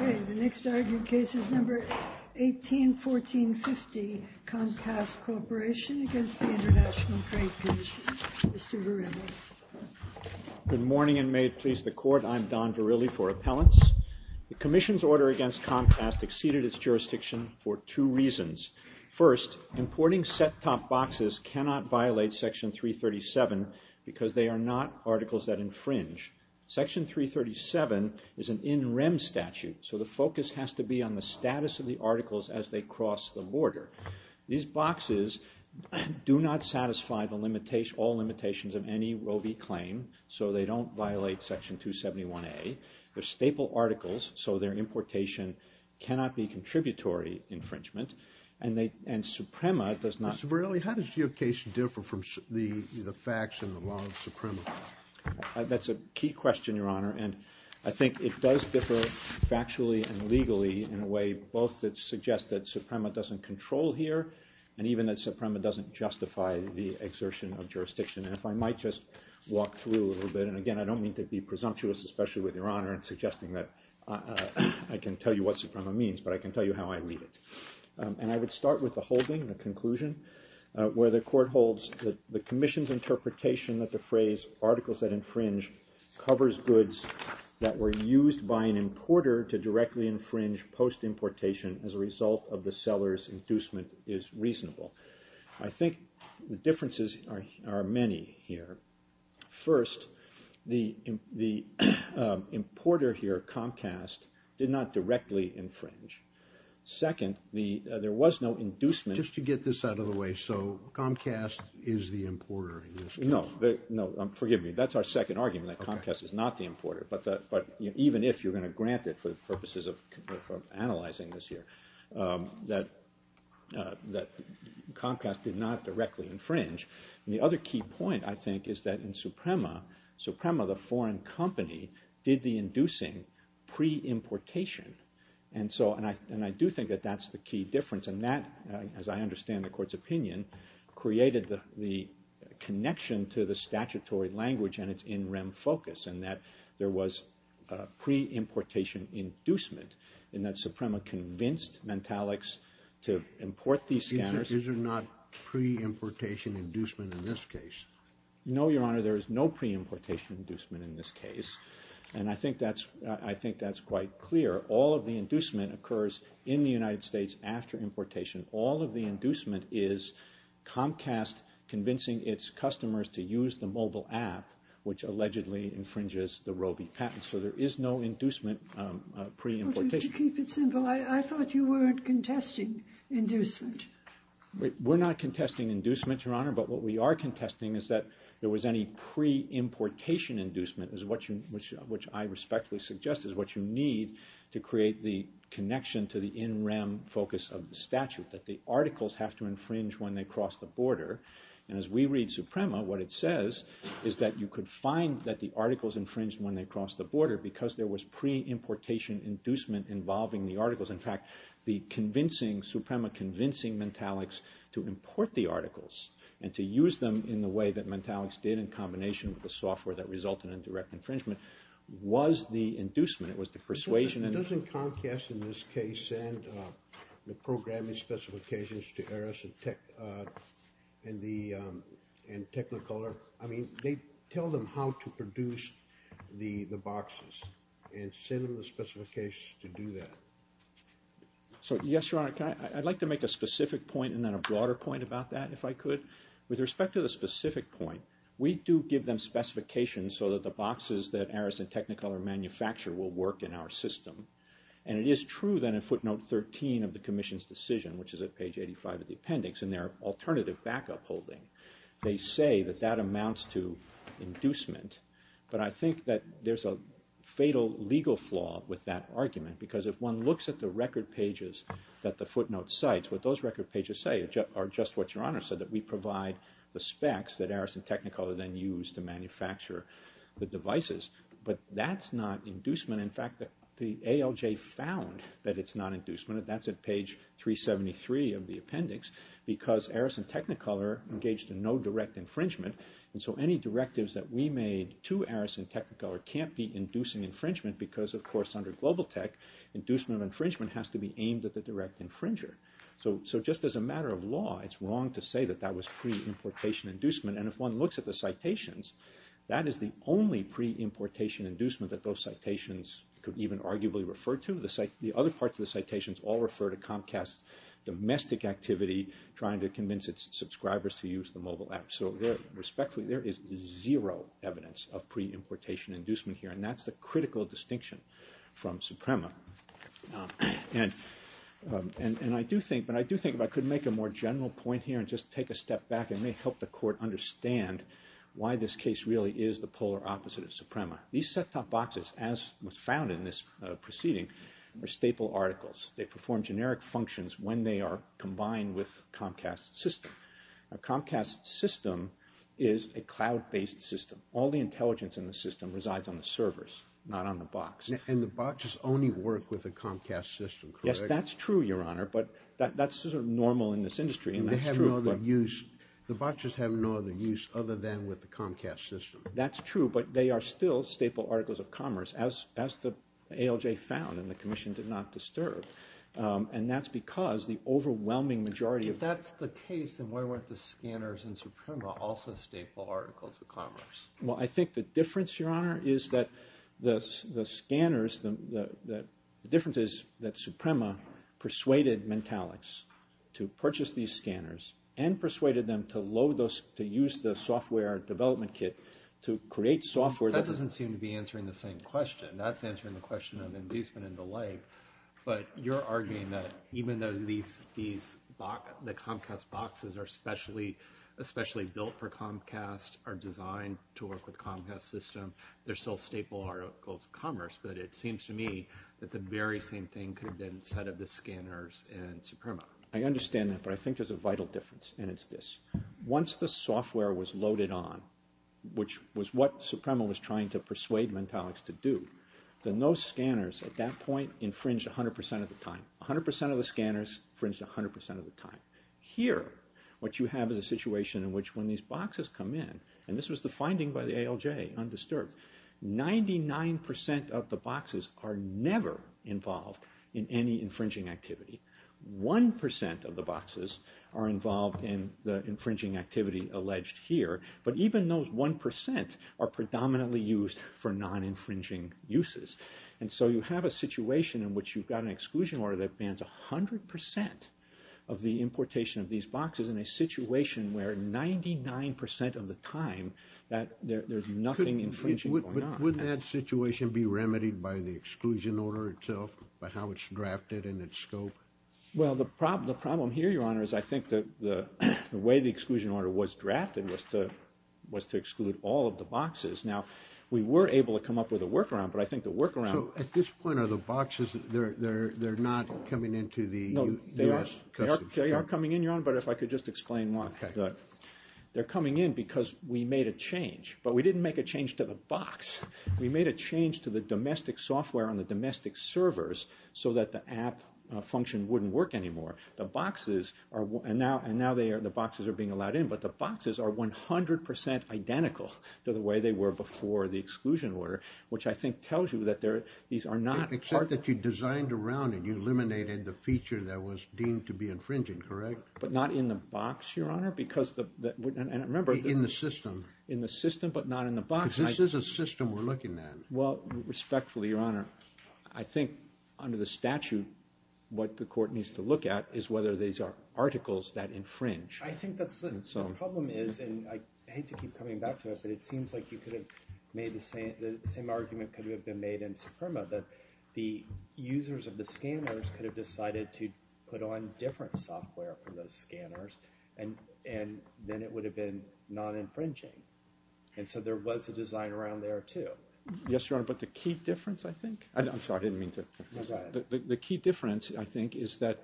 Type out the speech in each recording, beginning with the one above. Okay, the next argued case is number 181450, Comcast Corporation against the International Trade Commission, Mr. Verrilli. Good morning, and may it please the Court, I'm Don Verrilli for Appellants. The Commission's order against Comcast exceeded its jurisdiction for two reasons. First, importing set-top boxes cannot violate Section 337 because they are not articles that infringe. Section 337 is an in-rem statute, so the focus has to be on the status of the articles as they cross the border. These boxes do not satisfy all limitations of any Roe v. Claim, so they don't violate Section 271A. They're staple articles, so their importation cannot be contributory infringement, and Suprema does not... Mr. Verrilli, how does your case differ from the facts in the law of Suprema? That's a key question, Your Honor, and I think it does differ factually and legally in a little here, and even that Suprema doesn't justify the exertion of jurisdiction. And if I might just walk through a little bit, and again, I don't mean to be presumptuous, especially with Your Honor in suggesting that I can tell you what Suprema means, but I can tell you how I read it. And I would start with the holding, the conclusion, where the Court holds that the Commission's interpretation that the phrase, articles that infringe, covers goods that were used by an infringement is reasonable. I think the differences are many here. First, the importer here, Comcast, did not directly infringe. Second, there was no inducement... Just to get this out of the way, so Comcast is the importer in this case? No, no, forgive me, that's our second argument, that Comcast is not the importer, but even if, you're going to grant it for the purposes of analyzing this here, that Comcast did not directly infringe. And the other key point, I think, is that in Suprema, Suprema, the foreign company, did the inducing pre-importation, and I do think that that's the key difference. And that, as I understand the Court's opinion, created the connection to the statutory language and its in-REM focus, and that there was pre-importation inducement, and that Suprema convinced Mentalics to import these scanners... Is there not pre-importation inducement in this case? No, Your Honor, there is no pre-importation inducement in this case, and I think that's quite clear. All of the inducement occurs in the United States after importation. All of the inducement is Comcast convincing its customers to use the mobile app, which allegedly infringes the Roe v. Patent, so there is no inducement pre-importation. To keep it simple, I thought you weren't contesting inducement. We're not contesting inducement, Your Honor, but what we are contesting is that there was any pre-importation inducement, which I respectfully suggest is what you need to create the connection to the in-REM focus of the statute, that the articles have to infringe when they cross the border. And as we read Suprema, what it says is that you could find that the articles infringed when they crossed the border because there was pre-importation inducement involving the articles. In fact, Suprema convincing Mentalics to import the articles and to use them in the way that Mentalics did in combination with the software that resulted in direct infringement was the inducement. It was the persuasion... Doesn't Comcast, in this case, send the programming specifications to Aris and Technicolor? I mean, tell them how to produce the boxes and send them the specifications to do that. So yes, Your Honor. I'd like to make a specific point and then a broader point about that, if I could. With respect to the specific point, we do give them specifications so that the boxes that Aris and Technicolor manufacture will work in our system. And it is true that in footnote 13 of the Commission's decision, which is at page 85 of the appendix, in their alternative backup holding, they say that that amounts to inducement. But I think that there's a fatal legal flaw with that argument because if one looks at the record pages that the footnote cites, what those record pages say are just what Your Honor said, that we provide the specs that Aris and Technicolor then use to manufacture the devices. But that's not inducement. In fact, the ALJ found that it's not inducement. That's at page 373 of the appendix. Because Aris and Technicolor engaged in no direct infringement, and so any directives that we made to Aris and Technicolor can't be inducing infringement because, of course, under Global Tech, inducement infringement has to be aimed at the direct infringer. So just as a matter of law, it's wrong to say that that was pre-importation inducement. And if one looks at the citations, that is the only pre-importation inducement that those citations could even arguably refer to. The other parts of the citations all refer to Comcast's domestic activity, trying to convince its subscribers to use the mobile app. So respectfully, there is zero evidence of pre-importation inducement here, and that's the critical distinction from Suprema. And I do think, but I do think if I could make a more general point here and just take a step back, it may help the court understand why this case really is the polar opposite of Suprema. These set-top boxes, as was found in this proceeding, are staple articles. They perform generic functions when they are combined with Comcast's system. A Comcast system is a cloud-based system. All the intelligence in the system resides on the servers, not on the box. And the boxes only work with a Comcast system, correct? Yes, that's true, Your Honor, but that's sort of normal in this industry, and that's true. But the boxes have no other use other than with the Comcast system. That's true, but they are still staple articles of commerce, as the ALJ found, and the Commission did not disturb. And that's because the overwhelming majority of... If that's the case, then why weren't the scanners in Suprema also staple articles of commerce? Well, I think the difference, Your Honor, is that the scanners, the difference is that and persuaded them to use the software development kit to create software that... That doesn't seem to be answering the same question. That's answering the question of inducement and the like. But you're arguing that even though the Comcast boxes are especially built for Comcast, are designed to work with Comcast's system, they're still staple articles of commerce, but it seems to me that the very same thing could have been said of the scanners in Suprema. I understand that, but I think there's a vital difference, and it's this. Once the software was loaded on, which was what Suprema was trying to persuade Mentalics to do, then those scanners at that point infringed 100% of the time. 100% of the scanners infringed 100% of the time. Here, what you have is a situation in which when these boxes come in, and this was the finding by the ALJ, undisturbed, 99% of the boxes are never involved in any infringing activity. 1% of the boxes are involved in the infringing activity alleged here. But even those 1% are predominantly used for non-infringing uses. And so you have a situation in which you've got an exclusion order that bans 100% of the importation of these boxes in a situation where 99% of the time, there's nothing infringing or not. Would that situation be remedied by the exclusion order itself, by how it's drafted and its scope? Well, the problem here, Your Honor, is I think the way the exclusion order was drafted was to exclude all of the boxes. Now, we were able to come up with a workaround, but I think the workaround... So at this point, are the boxes, they're not coming into the U.S. Customs? No, they are coming in, Your Honor, but if I could just explain why. They're coming in because we made a change, but we didn't make a change to the box. We made a change to the domestic software on the domestic servers so that the app function wouldn't work anymore. The boxes are... and now the boxes are being allowed in, but the boxes are 100% identical to the way they were before the exclusion order, which I think tells you that these are not... Except that you designed around it. You eliminated the feature that was deemed to be infringing, correct? But not in the box, Your Honor, because the... And remember... In the system. In the system, but not in the box. Because this is a system we're looking at. Well, respectfully, Your Honor, I think under the statute, what the court needs to look at is whether these are articles that infringe. I think that's the problem is, and I hate to keep coming back to it, but it seems like you could have made the same argument could have been made in Suprema, that the users of the scanners could have decided to put on different software for those scanners, and then it would have been non-infringing. And so there was a design around there, too. Yes, Your Honor, but the key difference, I think... I'm sorry, I didn't mean to... The key difference, I think, is that...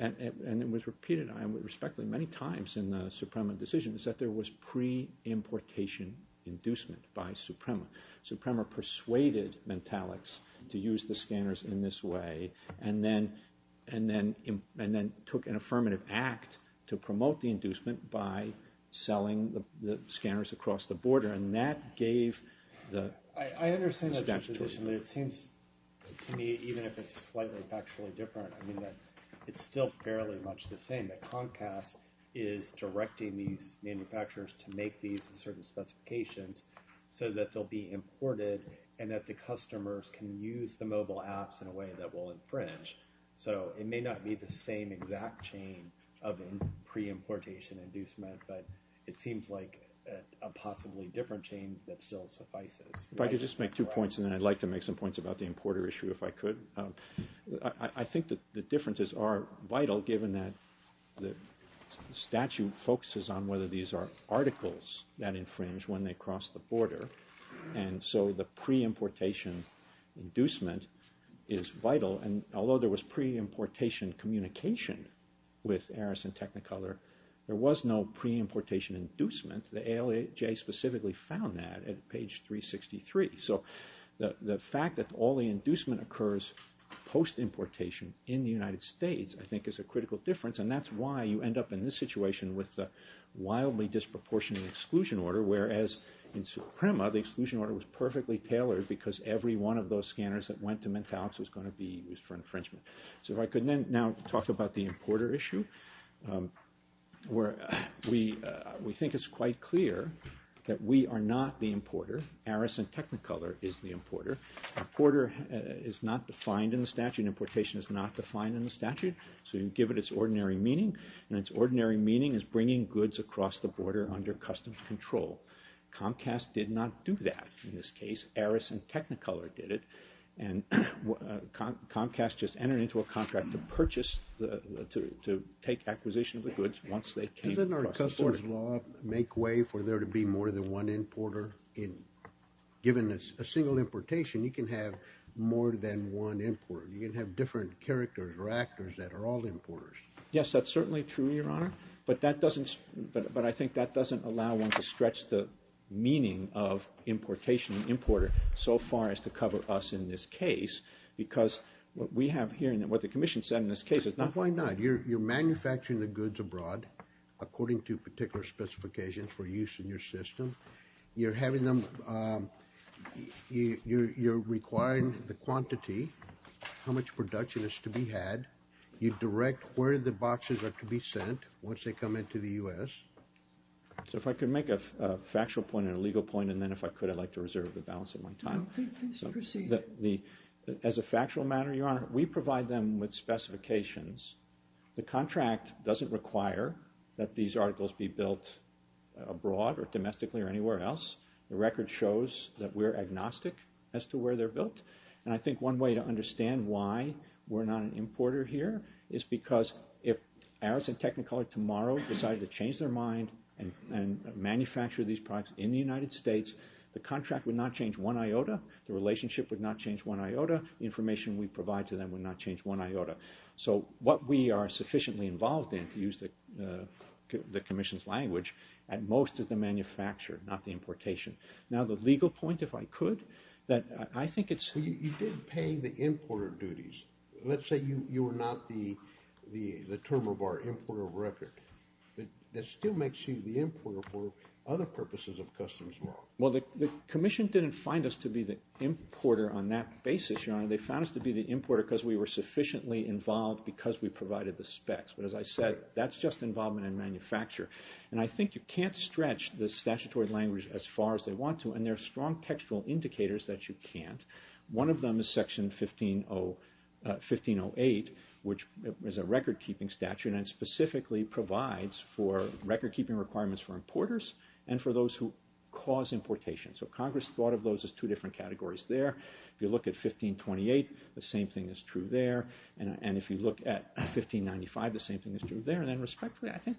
and it was repeated, I respectfully, many times in the Suprema decision is that there was pre-importation inducement by Suprema. Suprema persuaded Mentalex to use the scanners in this way, and then took an affirmative act to promote the inducement by selling the scanners across the border. And that gave the... I understand that position, but it seems to me, even if it's slightly factually different, I mean, that it's still fairly much the same, that Comcast is directing these manufacturers to make these certain specifications so that they'll be imported and that the customers can use the mobile apps in a way that will infringe. So it may not be the same exact chain of pre-importation inducement, but it seems like a possibly different chain that still suffices. If I could just make two points, and then I'd like to make some points about the importer issue if I could. I think that the differences are vital, given that the statute focuses on whether these are articles that infringe when they cross the border. And so the pre-importation inducement is vital. And although there was pre-importation communication with Aris and Technicolor, there was no pre-importation inducement. The ALAJ specifically found that at page 363. So the fact that all the inducement occurs post-importation in the United States, I think, is a critical difference. And that's why you end up in this situation with a wildly disproportionate exclusion order, whereas in Suprema, the exclusion order was perfectly tailored because every one of those scanners that went to Mentholics was going to be used for infringement. So if I could now talk about the importer issue, where we think it's quite clear that we are not the importer. Aris and Technicolor is the importer. Importer is not defined in the statute. Importation is not defined in the statute. So you give it its ordinary meaning, and its ordinary meaning is bringing goods across the border under customs control. Comcast did not do that in this case. Aris and Technicolor did it. And Comcast just entered into a contract to purchase, to take acquisition of the goods once they came across the border. Doesn't our customs law make way for there to be more than one importer? Given a single importation, you can have more than one importer. You can have different characters or actors that are all importers. Yes, that's certainly true, Your Honor. But that doesn't, but I think that doesn't allow one to stretch the meaning of importation and importer so far as to cover us in this case, because what we have here, and what the Commission said in this case is not... Well, why not? You're manufacturing the goods abroad according to particular specifications for use in your system. You're having them, you're requiring the quantity, how much production is to be had. You direct where the boxes are to be sent once they come into the U.S. So if I could make a factual point and a legal point, and then if I could, I'd like to reserve the balance of my time. No, please proceed. As a factual matter, Your Honor, we provide them with specifications. The contract doesn't require that these articles be built abroad or domestically or anywhere else. The record shows that we're agnostic as to where they're built, and I think one way to understand why we're not an importer here is because if Aris and Technicolor tomorrow decided to change their mind and manufacture these products in the United States, the contract would not change one iota, the relationship would not change one iota, the information we provide to them would not change one iota. So what we are sufficiently involved in, to use the Commission's language, at most is the manufacture, not the importation. Now the legal point, if I could, that I think it's... You did pay the importer duties. Let's say you were not the term of our importer record. That still makes you the importer for other purposes of customs law. Well, the Commission didn't find us to be the importer on that basis, Your Honor. They found us to be the importer because we were sufficiently involved because we provided the specs. But as I said, that's just involvement in manufacture, and I think you can't stretch the statutory language as far as they want to, and there are strong textual indicators that you can't. One of them is Section 1508, which is a record-keeping statute and specifically provides for record-keeping requirements for importers and for those who cause importation. So Congress thought of those as two different categories there. If you look at 1528, the same thing is true there, and if you look at 1595, the same thing is true there. And then, respectfully, I think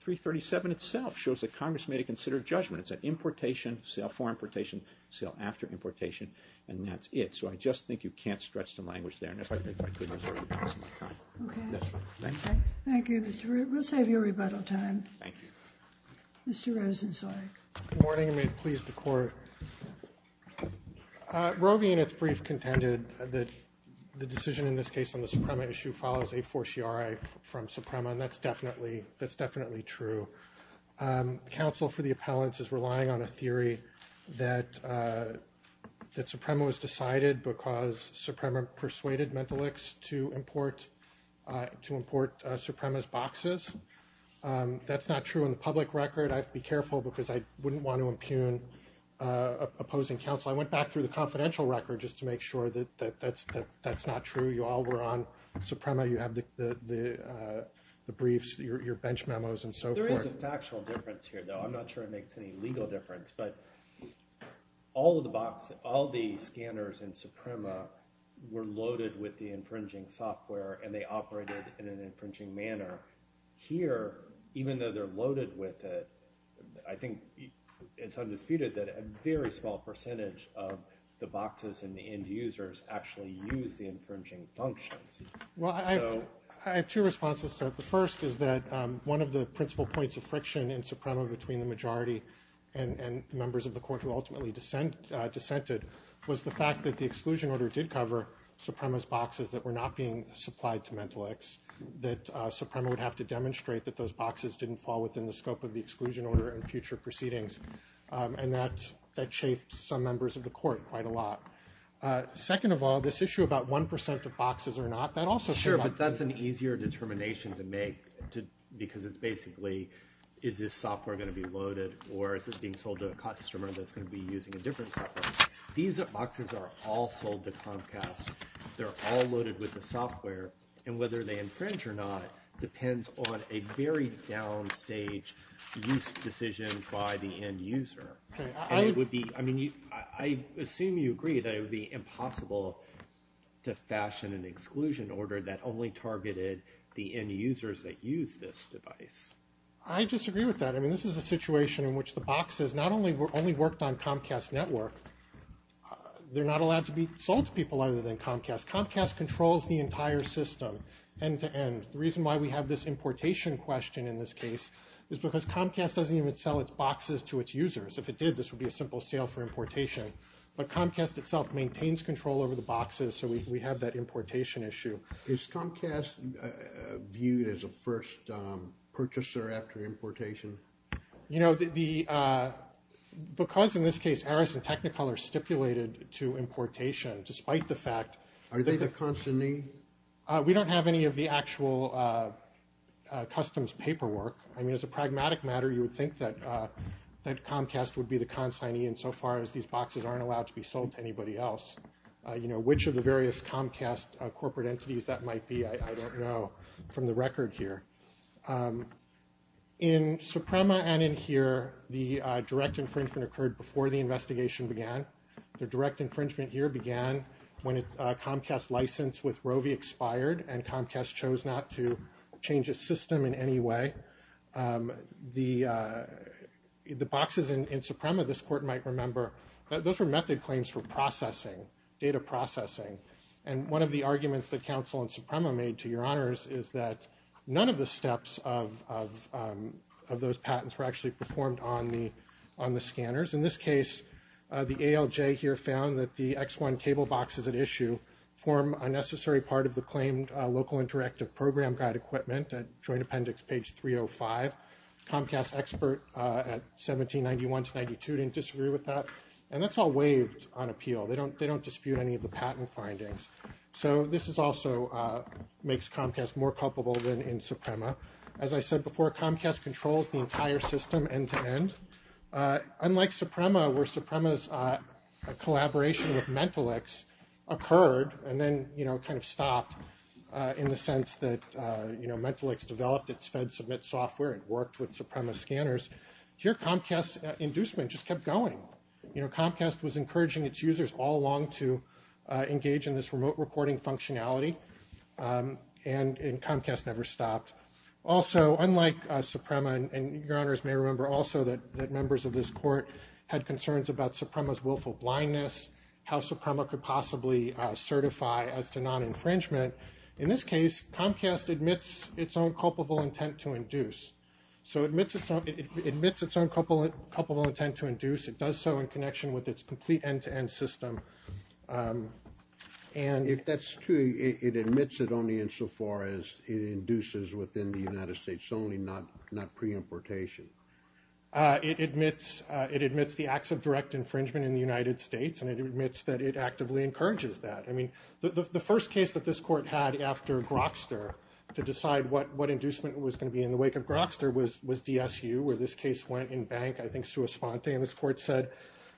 337 itself shows that Congress made a considerate judgment. It's an importation, sale for importation, sale after importation, and that's it. So I just think you can't stretch the language there. And if I could, I'm sorry to pass my time. Okay. That's fine. Thank you. Thank you, Mr. Root. We'll save you rebuttal time. Thank you. Mr. Rosen, sorry. Good morning, and may it please the Court. Roe v. Units brief contended that the decision in this case on the Suprema issue follows a fortiori from Suprema, and that's definitely true. Counsel for the appellants is relying on a theory that Suprema was decided because Suprema persuaded Mentalics to import Suprema's boxes. That's not true in the public record. I have to be careful because I wouldn't want to impugn opposing counsel. I went back through the confidential record just to make sure that that's not true. You all were on Suprema. You have the briefs, your bench memos, and so forth. There is a factual difference here, though. I'm not sure it makes any legal difference, but all of the boxes, all the scanners in Suprema were loaded with the infringing software, and they operated in an infringing manner. Here, even though they're loaded with it, I think it's undisputed that a very small percentage of the boxes and the end users actually use the infringing functions. Well, I have two responses to that. The first is that one of the principal points of friction in Suprema between the majority and the members of the Court who ultimately dissented was the fact that the exclusion would have to demonstrate that those boxes didn't fall within the scope of the exclusion order and future proceedings, and that chafed some members of the Court quite a lot. Second of all, this issue about 1% of boxes or not, that also came up. Sure, but that's an easier determination to make because it's basically, is this software going to be loaded or is this being sold to a customer that's going to be using a different software? These boxes are all sold to Comcast. They're all loaded with the software, and whether they infringe or not depends on a very downstage use decision by the end user. I assume you agree that it would be impossible to fashion an exclusion order that only targeted the end users that use this device. I disagree with that. I mean, this is a situation in which the boxes not only worked on Comcast Network, they're not allowed to be sold to people other than Comcast. Comcast controls the entire system, end to end. The reason why we have this importation question in this case is because Comcast doesn't even sell its boxes to its users. If it did, this would be a simple sale for importation, but Comcast itself maintains control over the boxes, so we have that importation issue. Is Comcast viewed as a first purchaser after importation? You know, because in this case Aris and Technicolor stipulated to importation, despite the fact that... Are they the consignee? We don't have any of the actual customs paperwork. I mean, as a pragmatic matter, you would think that Comcast would be the consignee insofar as these boxes aren't allowed to be sold to anybody else. Which of the various Comcast corporate entities that might be, I don't know from the record here. In Suprema and in here, the direct infringement occurred before the investigation began. The direct infringement here began when Comcast's license with Rovi expired and Comcast chose not to change its system in any way. The boxes in Suprema, this court might remember, those were method claims for processing, data processing. And one of the arguments that counsel in Suprema made, to your honors, is that none of the reports of those patents were actually performed on the scanners. In this case, the ALJ here found that the X1 table boxes at issue form a necessary part of the claimed local interactive program guide equipment at Joint Appendix page 305. Comcast expert at 1791-92 didn't disagree with that. And that's all waived on appeal. They don't dispute any of the patent findings. So this also makes Comcast more culpable than in Suprema. As I said before, Comcast controls the entire system end-to-end. Unlike Suprema, where Suprema's collaboration with Mentalix occurred and then kind of stopped in the sense that Mentalix developed its FedSubmit software and worked with Suprema scanners, here Comcast's inducement just kept going. Comcast was encouraging its users all along to engage in this remote recording functionality. And Comcast never stopped. Also, unlike Suprema, and your honors may remember also that members of this court had concerns about Suprema's willful blindness, how Suprema could possibly certify as to non-infringement, in this case Comcast admits its own culpable intent to induce. So it admits its own culpable intent to induce. It does so in connection with its complete end-to-end system. If that's true, it admits it only insofar as it induces within the United States only, not pre-importation. It admits the acts of direct infringement in the United States, and it admits that it actively encourages that. I mean, the first case that this court had after Grokster to decide what inducement was going to be in the wake of Grokster was DSU, where this case went in bank, I think, sua court said,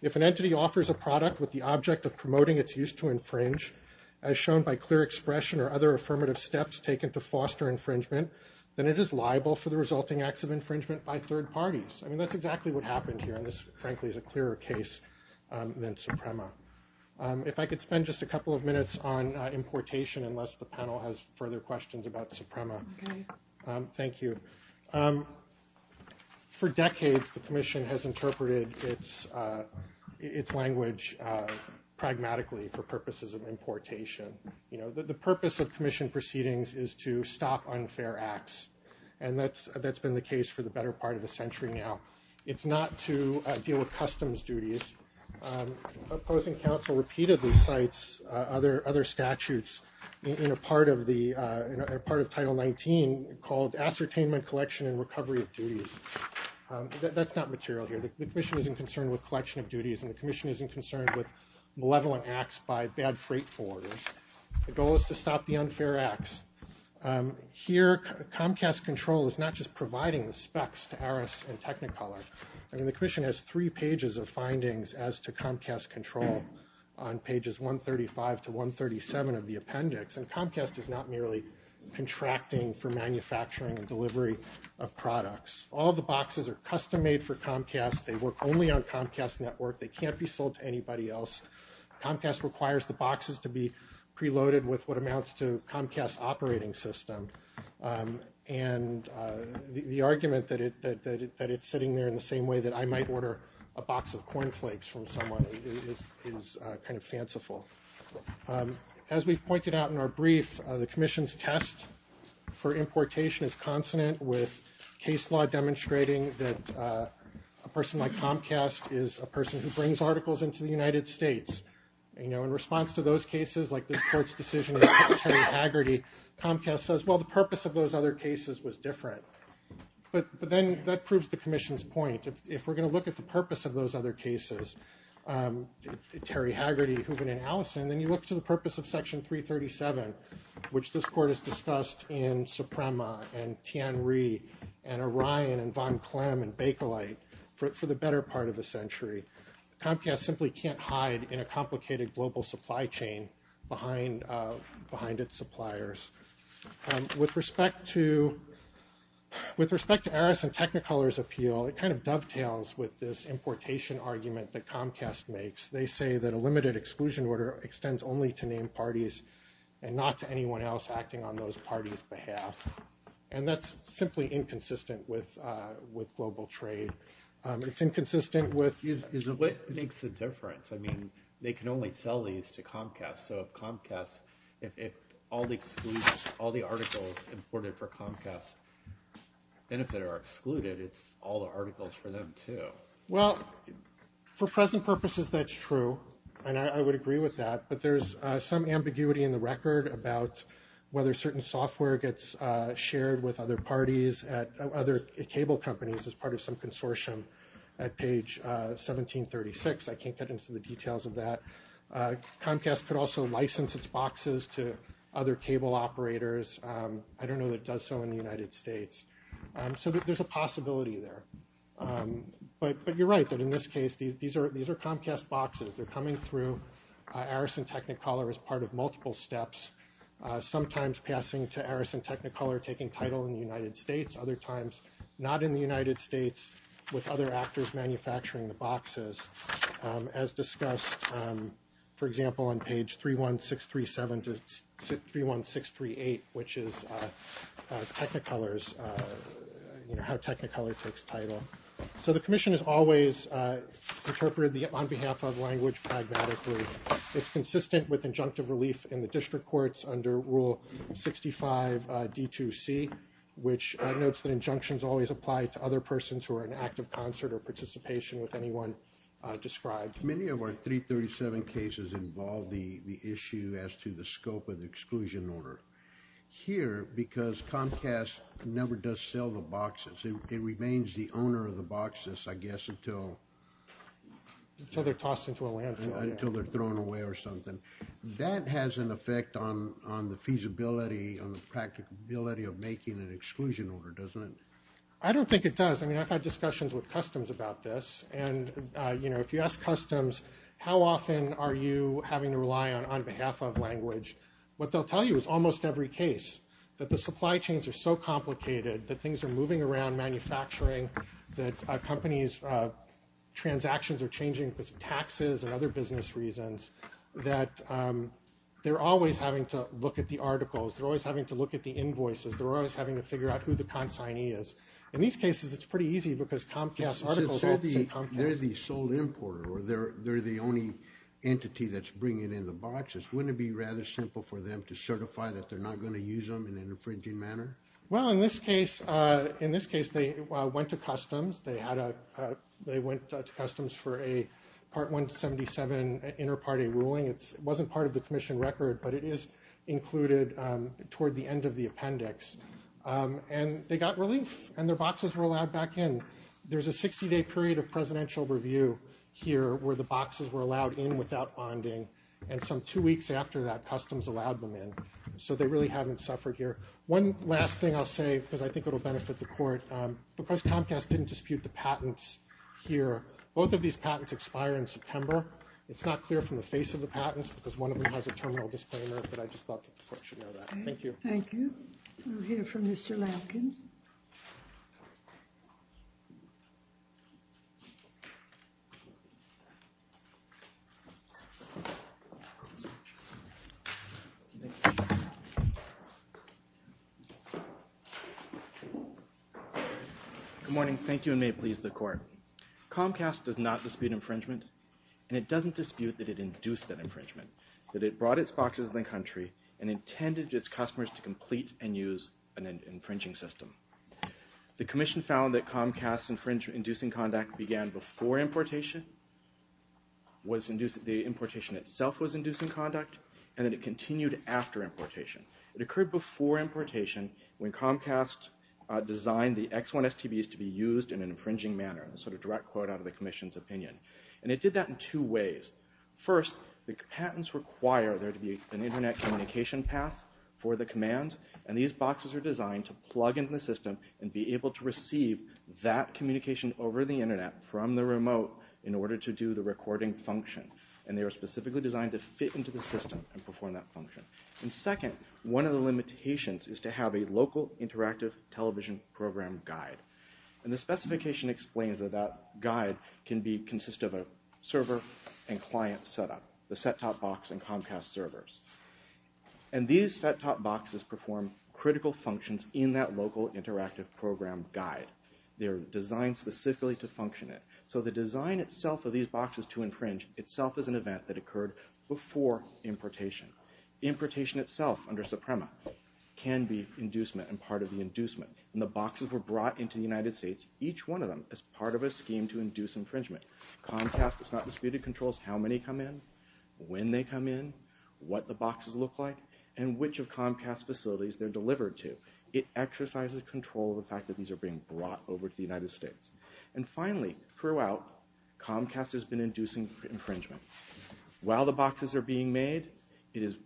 if an entity offers a product with the object of promoting its use to infringe, as shown by clear expression or other affirmative steps taken to foster infringement, then it is liable for the resulting acts of infringement by third parties. I mean, that's exactly what happened here, and this, frankly, is a clearer case than Suprema. If I could spend just a couple of minutes on importation, unless the panel has further questions about Suprema. Thank you. Thank you. For decades, the Commission has interpreted its language pragmatically for purposes of importation. The purpose of Commission proceedings is to stop unfair acts, and that's been the case for the better part of a century now. It's not to deal with customs duties. Opposing counsel repeatedly cites other statutes in a part of Title 19 called ascertainment collection and recovery of duties. That's not material here. The Commission isn't concerned with collection of duties, and the Commission isn't concerned with malevolent acts by bad freight forwarders. The goal is to stop the unfair acts. Here, Comcast Control is not just providing the specs to ARIS and Technicolor. I mean, the Commission has three pages of findings as to Comcast Control on pages 135 to 137 of the appendix, and Comcast is not merely contracting for manufacturing and delivery of products. All the boxes are custom-made for Comcast. They work only on Comcast Network. They can't be sold to anybody else. Comcast requires the boxes to be preloaded with what amounts to Comcast operating system, and the argument that it's sitting there in the same way that I might order a box of cornflakes from someone is kind of fanciful. As we've pointed out in our brief, the Commission's test for importation is consonant with case law demonstrating that a person like Comcast is a person who brings articles into the United States. You know, in response to those cases, like this court's decision to put Terry Haggerty, Comcast says, well, the purpose of those other cases was different. But then that proves the Commission's point. If we're going to look at the purpose of those other cases, Terry Haggerty, Hoeven, and Allison, then you look to the purpose of Section 337, which this court has discussed in Suprema and Tianri and Orion and von Klemm and Bakelite for the better part of a century. Comcast simply can't hide in a complicated global supply chain behind its suppliers. With respect to Aris and Technicolor's appeal, it kind of dovetails with this importation argument that Comcast makes. They say that a limited exclusion order extends only to named parties and not to anyone else acting on those parties' behalf. And that's simply inconsistent with global trade. It's inconsistent with- What makes the difference? I mean, they can only sell these to Comcast. So if Comcast, if all the articles imported for Comcast benefit are excluded, it's all the articles for them too. Well, for present purposes, that's true. And I would agree with that. But there's some ambiguity in the record about whether certain software gets shared with other parties at other cable companies as part of some consortium at page 1736. I can't get into the details of that. Comcast could also license its boxes to other cable operators. I don't know that it does so in the United States. So there's a possibility there. But you're right that in this case, these are Comcast boxes. They're coming through Aris and Technicolor as part of multiple steps, sometimes passing to Aris and Technicolor taking title in the United States, other times not in the United States with other actors manufacturing the boxes. As discussed, for example, on page 31637 to 31638, which is Technicolor's, you know, how Technicolor takes title. So the commission has always interpreted the on behalf of language pragmatically. It's consistent with injunctive relief in the district courts under Rule 65 D2C, which notes that injunctions always apply to other persons who are in active concert or participation with anyone described. Many of our 337 cases involve the issue as to the scope of the exclusion order. Here, because Comcast never does sell the boxes, it remains the owner of the boxes, I guess, until they're thrown away or something. That has an effect on the feasibility, on the practicability of making an exclusion order, doesn't it? I don't think it does. I've had discussions with Customs about this. If you ask Customs, how often are you having to rely on on behalf of language, what they'll tell you is almost every case, that the supply chains are so complicated, that things are moving around manufacturing, that companies' transactions are changing because of taxes and other business reasons, that they're always having to look at the articles. They're always having to look at the invoices. They're always having to figure out who the consignee is. In these cases, it's pretty easy, because Comcast articles all say Comcast. They're the sole importer, or they're the only entity that's bringing in the boxes. Wouldn't it be rather simple for them to certify that they're not going to use them in an infringing manner? Well, in this case, they went to Customs. They went to Customs for a Part 177 inter-party ruling. It wasn't part of the Commission record, but it is included toward the end of the appendix. And they got relief, and their boxes were allowed back in. There's a 60-day period of presidential review here, where the boxes were allowed in without bonding. And some two weeks after that, Customs allowed them in. So they really haven't suffered here. One last thing I'll say, because I think it'll benefit the Court. Because Comcast didn't dispute the patents here, both of these patents expire in September. It's not clear from the face of the patents, because one of them has a terminal disclaimer, but I just thought the Court should know that. Thank you. Thank you. We'll hear from Mr. Lampkin. Good morning. Thank you, and may it please the Court. Comcast does not dispute infringement, and it doesn't dispute that it induced that infringement, that it brought its boxes in the country, and intended its customers to complete and use an infringing system. The Commission found that Comcast's infringement-inducing conduct began before importation, the importation itself was inducing conduct, and that it continued after importation. It occurred before importation, when Comcast designed the X1 STBs to be used in an infringing manner, a sort of direct quote out of the Commission's opinion. And it did that in two ways. First, the patents require there to be an internet communication path for the commands, and these boxes are designed to plug into the system and be able to receive that communication over the internet from the remote in order to do the recording function. And they were specifically designed to fit into the system and perform that function. And second, one of the limitations is to have a local interactive television program guide. And the specification explains that that guide can consist of a server and client setup, the set-top box and Comcast servers. And these set-top boxes perform critical functions in that local interactive program guide. They're designed specifically to function it. So the design itself of these boxes to infringe itself is an event that occurred before importation. Importation itself, under Suprema, can be inducement and part of the inducement. And the boxes were brought into the United States, each one of them, as part of a scheme to induce infringement. Comcast has not disputed controls how many come in, when they come in, what the boxes look like, and which of Comcast's facilities they're delivered to. It exercises control of the fact that these are being brought over to the United States. And finally, throughout, Comcast has been inducing infringement. While the boxes are being made, it is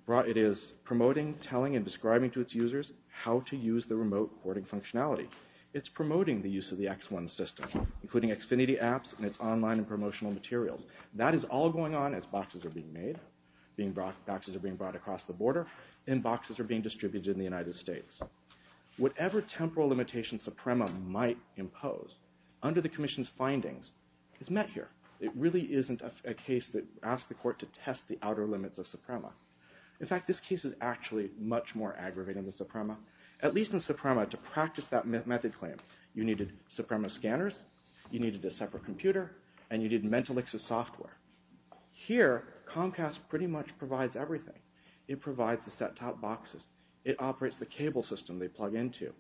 promoting, telling, and describing to its users how to use the remote porting functionality. It's promoting the use of the X1 system, including Xfinity apps, and its online and promotional materials. That is all going on as boxes are being made, boxes are being brought across the border, and boxes are being distributed in the United States. Whatever temporal limitations Suprema might impose, under the Commission's findings, it's met here. It really isn't a case that asks the court to test the outer limits of Suprema. In fact, this case is actually much more aggravating than Suprema. At least in Suprema, to practice that method claim, you needed Suprema scanners, you needed a separate computer, and you needed Mentalix's software. Here, Comcast pretty much provides everything. It provides the set-top boxes, it operates the cable system they plug into,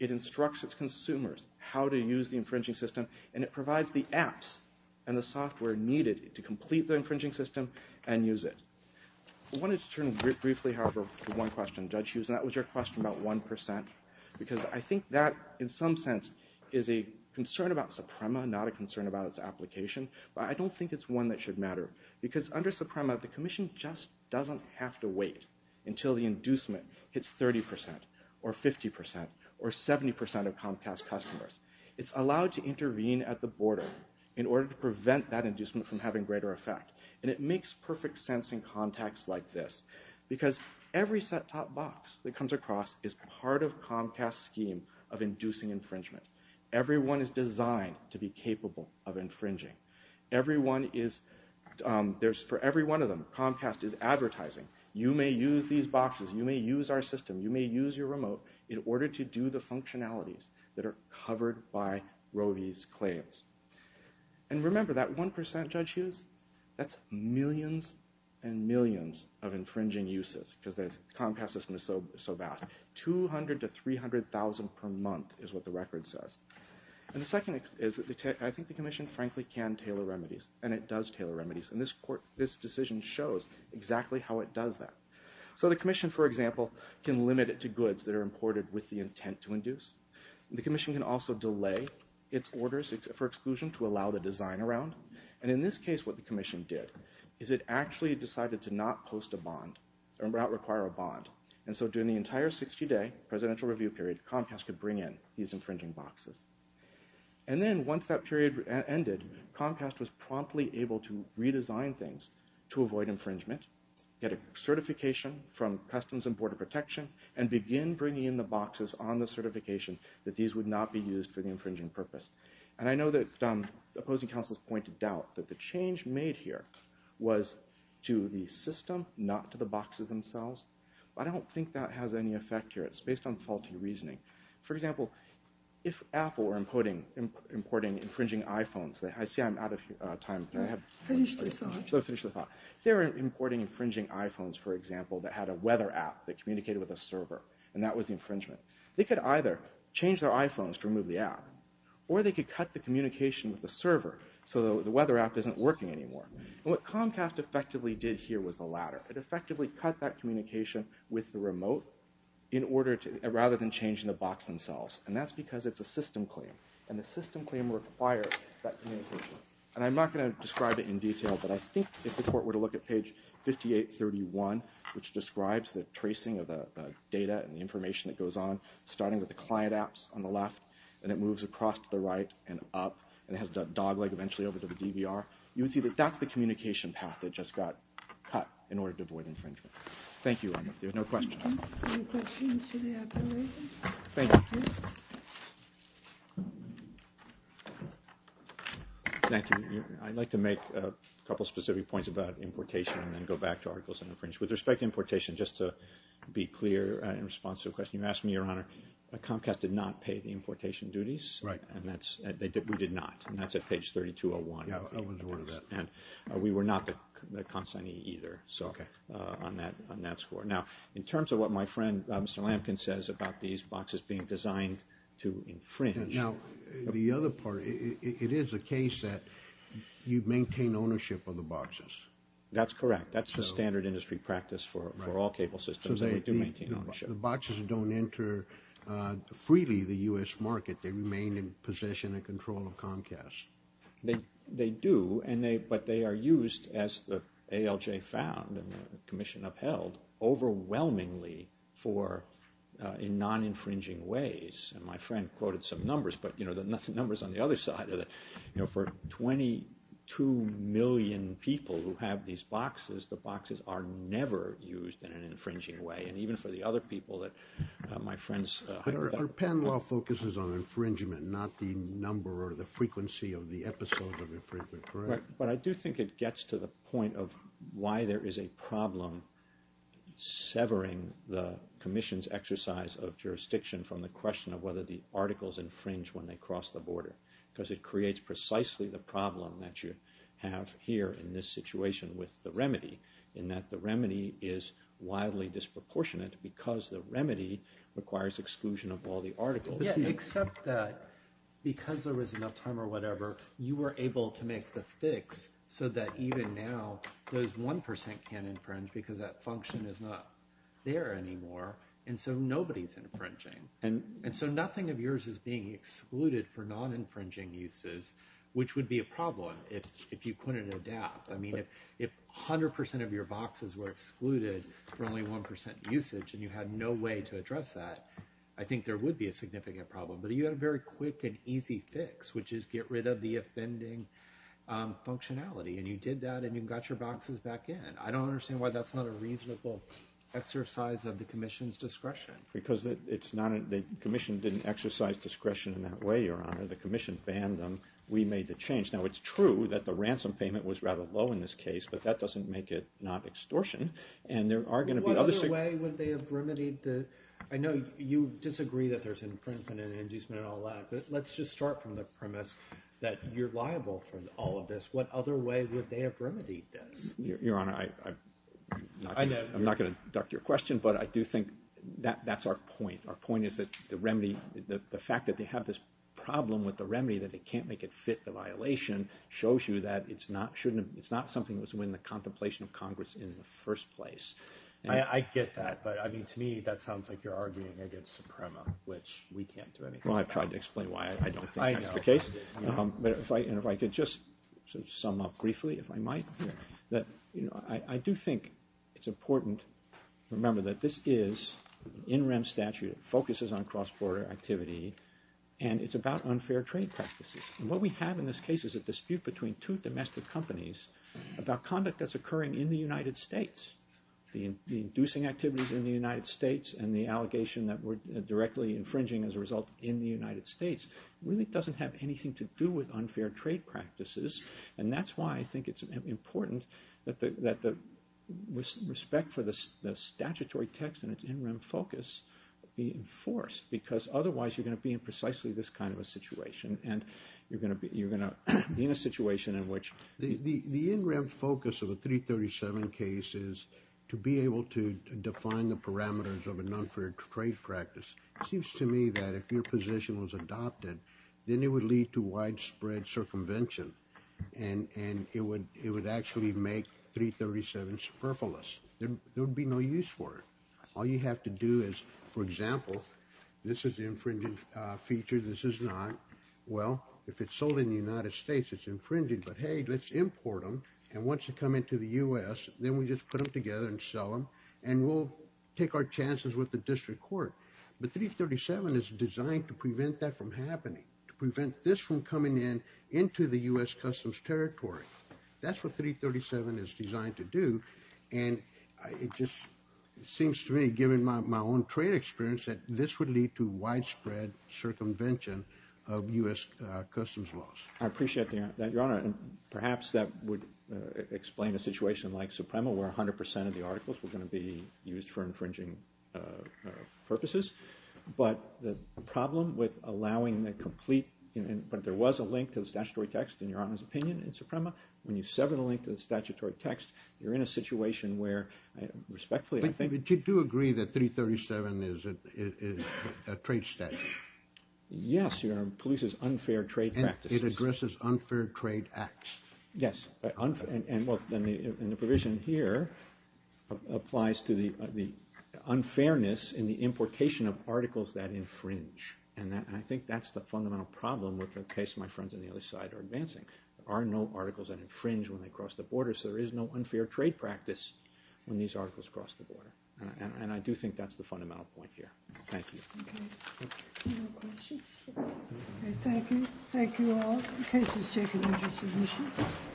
it instructs its consumers how to use the infringing system, and it provides the apps and the software needed to complete the infringing system and use it. I wanted to turn briefly, however, to one question, Judge Hughes, and that was your question about 1%. Because I think that, in some sense, is a concern about Suprema, not a concern about its application. But I don't think it's one that should matter. Because under Suprema, the Commission just doesn't have to wait until the inducement hits 30%, or 50%, or 70% of Comcast customers. It's allowed to intervene at the border in order to prevent that inducement from having greater effect. And it makes perfect sense in contexts like this. Because every set-top box that comes across is part of Comcast's scheme of inducing infringement. Everyone is designed to be capable of infringing. For every one of them, Comcast is advertising, you may use these boxes, you may use our system, you may use your remote, in order to do the functionalities that are covered by Rody's claims. And remember, that 1%, Judge Hughes, that's millions and millions of infringing uses, because the Comcast system is so vast. 200,000 to 300,000 per month is what the record says. And the second is, I think the Commission, frankly, can tailor remedies. And it does tailor remedies. And this decision shows exactly how it does that. So the Commission, for example, can limit it to goods that are imported with the intent to induce. The Commission can also delay its orders for exclusion to allow the design around. And in this case, what the Commission did, is it actually decided to not post a bond, or not require a bond. And so during the entire 60-day presidential review period, Comcast could bring in these infringing boxes. And then once that period ended, Comcast was promptly able to redesign things to avoid infringement, get a certification from Customs and Border Protection, and begin bringing in the boxes on the certification that these would not be used for the infringing purpose. And I know that opposing counsels point to doubt that the change made here was to the system, not to the boxes themselves. But I don't think that has any effect here. It's based on faulty reasoning. For example, if Apple were importing infringing iPhones, I see I'm out of time. Can I have one more question? Finish the thought. So finish the thought. If they were importing infringing iPhones, for example, that had a weather app that communicated with a server, and that was the infringement, they could either change their iPhones to remove the app, or they could cut the communication with the server so the weather app isn't working anymore. And what Comcast effectively did here was the latter. It effectively cut that communication with the remote in order to, rather than changing the box themselves. And that's because it's a system claim. And the system claim required that communication. And I'm not going to describe it in detail, but I think if the court were to look at page 5831, which describes the tracing of the data and the information that goes on, starting with the client apps on the left, and it moves across to the right and up, and it has the dogleg eventually over to the DVR, you would see that that's the communication path that just got cut in order to avoid infringement. Thank you, Anna. If there's no question. Any questions for the application? Thank you. Thank you. I'd like to make a couple specific points about importation and then go back to articles and infringement. With respect to importation, just to be clear in response to the question you asked me, Your Honor, Comcast did not pay the importation duties. Right. We did not. And that's at page 3201. Yeah, I was aware of that. And we were not the consignee either. So on that score. Now, in terms of what my friend, Mr. Lampkin, says about these boxes being designed to infringe. Now, the other part, it is a case that you maintain ownership of the boxes. That's correct. That's the standard industry practice for all cable systems. So they do maintain ownership. The boxes don't enter freely the U.S. market. They remain in possession and control of Comcast. They do. But they are used, as the ALJ found and the commission upheld, overwhelmingly in non-infringing ways. And my friend quoted some numbers. But the numbers on the other side of it, for 22 million people who have these boxes, the boxes are never used in an infringing way. And even for the other people that my friends- But our panel all focuses on infringement, not the number or the frequency of the episodes of infringement, correct? But I do think it gets to the point of why there is a problem severing the commission's exercise of jurisdiction from the question of whether the articles infringe when they cross the border. Because it creates precisely the problem that you have here in this situation with the remedy, in that the remedy is widely disproportionate because the remedy requires exclusion of all the articles. Yeah, except that, because there was enough time or whatever, you were able to make the fix so that even now those 1% can't infringe because that function is not there anymore. And so nobody's infringing. And so nothing of yours is being excluded for non-infringing uses, which would be a problem if you couldn't adapt. I mean, if 100% of your boxes were excluded for only 1% usage and you had no way to address that, I think there would be a significant problem. But you had a very quick and easy fix, which is get rid of the offending functionality. And you did that and you got your boxes back in. I don't understand why that's not a reasonable exercise of the commission's discretion. Because the commission didn't exercise discretion in that way, Your Honor. The commission banned them. We made the change. Now, it's true that the ransom payment was rather low in this case, but that doesn't make it not extortion. And there are going to be other... What other way would they have remedied the... I know you disagree that there's infringement and inducement and all that, but let's just start from the premise that you're liable for all of this. What other way would they have remedied this? Your Honor, I'm not going to duck your question, but I do think that's our point. Our point is that the remedy, the fact that they have this problem with the remedy that they can't make it fit the violation shows you that it's not something that was in the contemplation of Congress in the first place. I get that, but to me, that sounds like you're arguing against Suprema, which we can't do anything about. Well, I've tried to explain why I don't think that's the case. And if I could just sum up briefly, if I might, that I do think it's important to remember that this is an in-rem statute. It focuses on cross-border activity and it's about unfair trade practices. And what we have in this case is a dispute between two domestic companies about conduct that's occurring in the United States. The inducing activities in the United States and the allegation that we're directly infringing as a result in the United States really doesn't have anything to do with unfair trade practices. And that's why I think it's important that the respect for the statutory text and its in-rem focus be enforced, because otherwise you're going to be in precisely this kind of a situation. And you're going to be in a situation in which... The in-rem focus of the 337 case is to be able to define the parameters of an unfair trade practice. It seems to me that if your position was adopted, then it would lead to widespread circumvention and it would actually make 337 superfluous. There would be no use for it. All you have to do is, for example, this is the infringing feature, this is not. Well, if it's sold in the United States, it's infringing, but hey, let's import them. And once they come into the U.S., then we just put them together and sell them and we'll take our chances with the district court. But 337 is designed to prevent that from happening, to prevent this from coming in into the U.S. Customs Territory. That's what 337 is designed to do. And it just seems to me, given my own trade experience, that this would lead to widespread circumvention of U.S. Customs laws. I appreciate that, Your Honor. And perhaps that would explain a situation like Suprema where 100% of the articles were going to be used for infringing purposes. But the problem with allowing the complete, but there was a link to the statutory text, in Your Honor's opinion, in Suprema. When you sever the link to the statutory text, you're in a situation where, respectfully, I think- But you do agree that 337 is a trade statute? Yes, Your Honor. Polices unfair trade practices. It addresses unfair trade acts. Yes, and the provision here applies to the unfairness in the importation of articles that infringe. And I think that's the fundamental problem with the case my friends on the other side are advancing. There are no articles that infringe when they cross the border, so there is no unfair trade practice when these articles cross the border. And I do think that's the fundamental point here. Thank you. No questions? Okay, thank you. Thank you all. The case is taken into submission.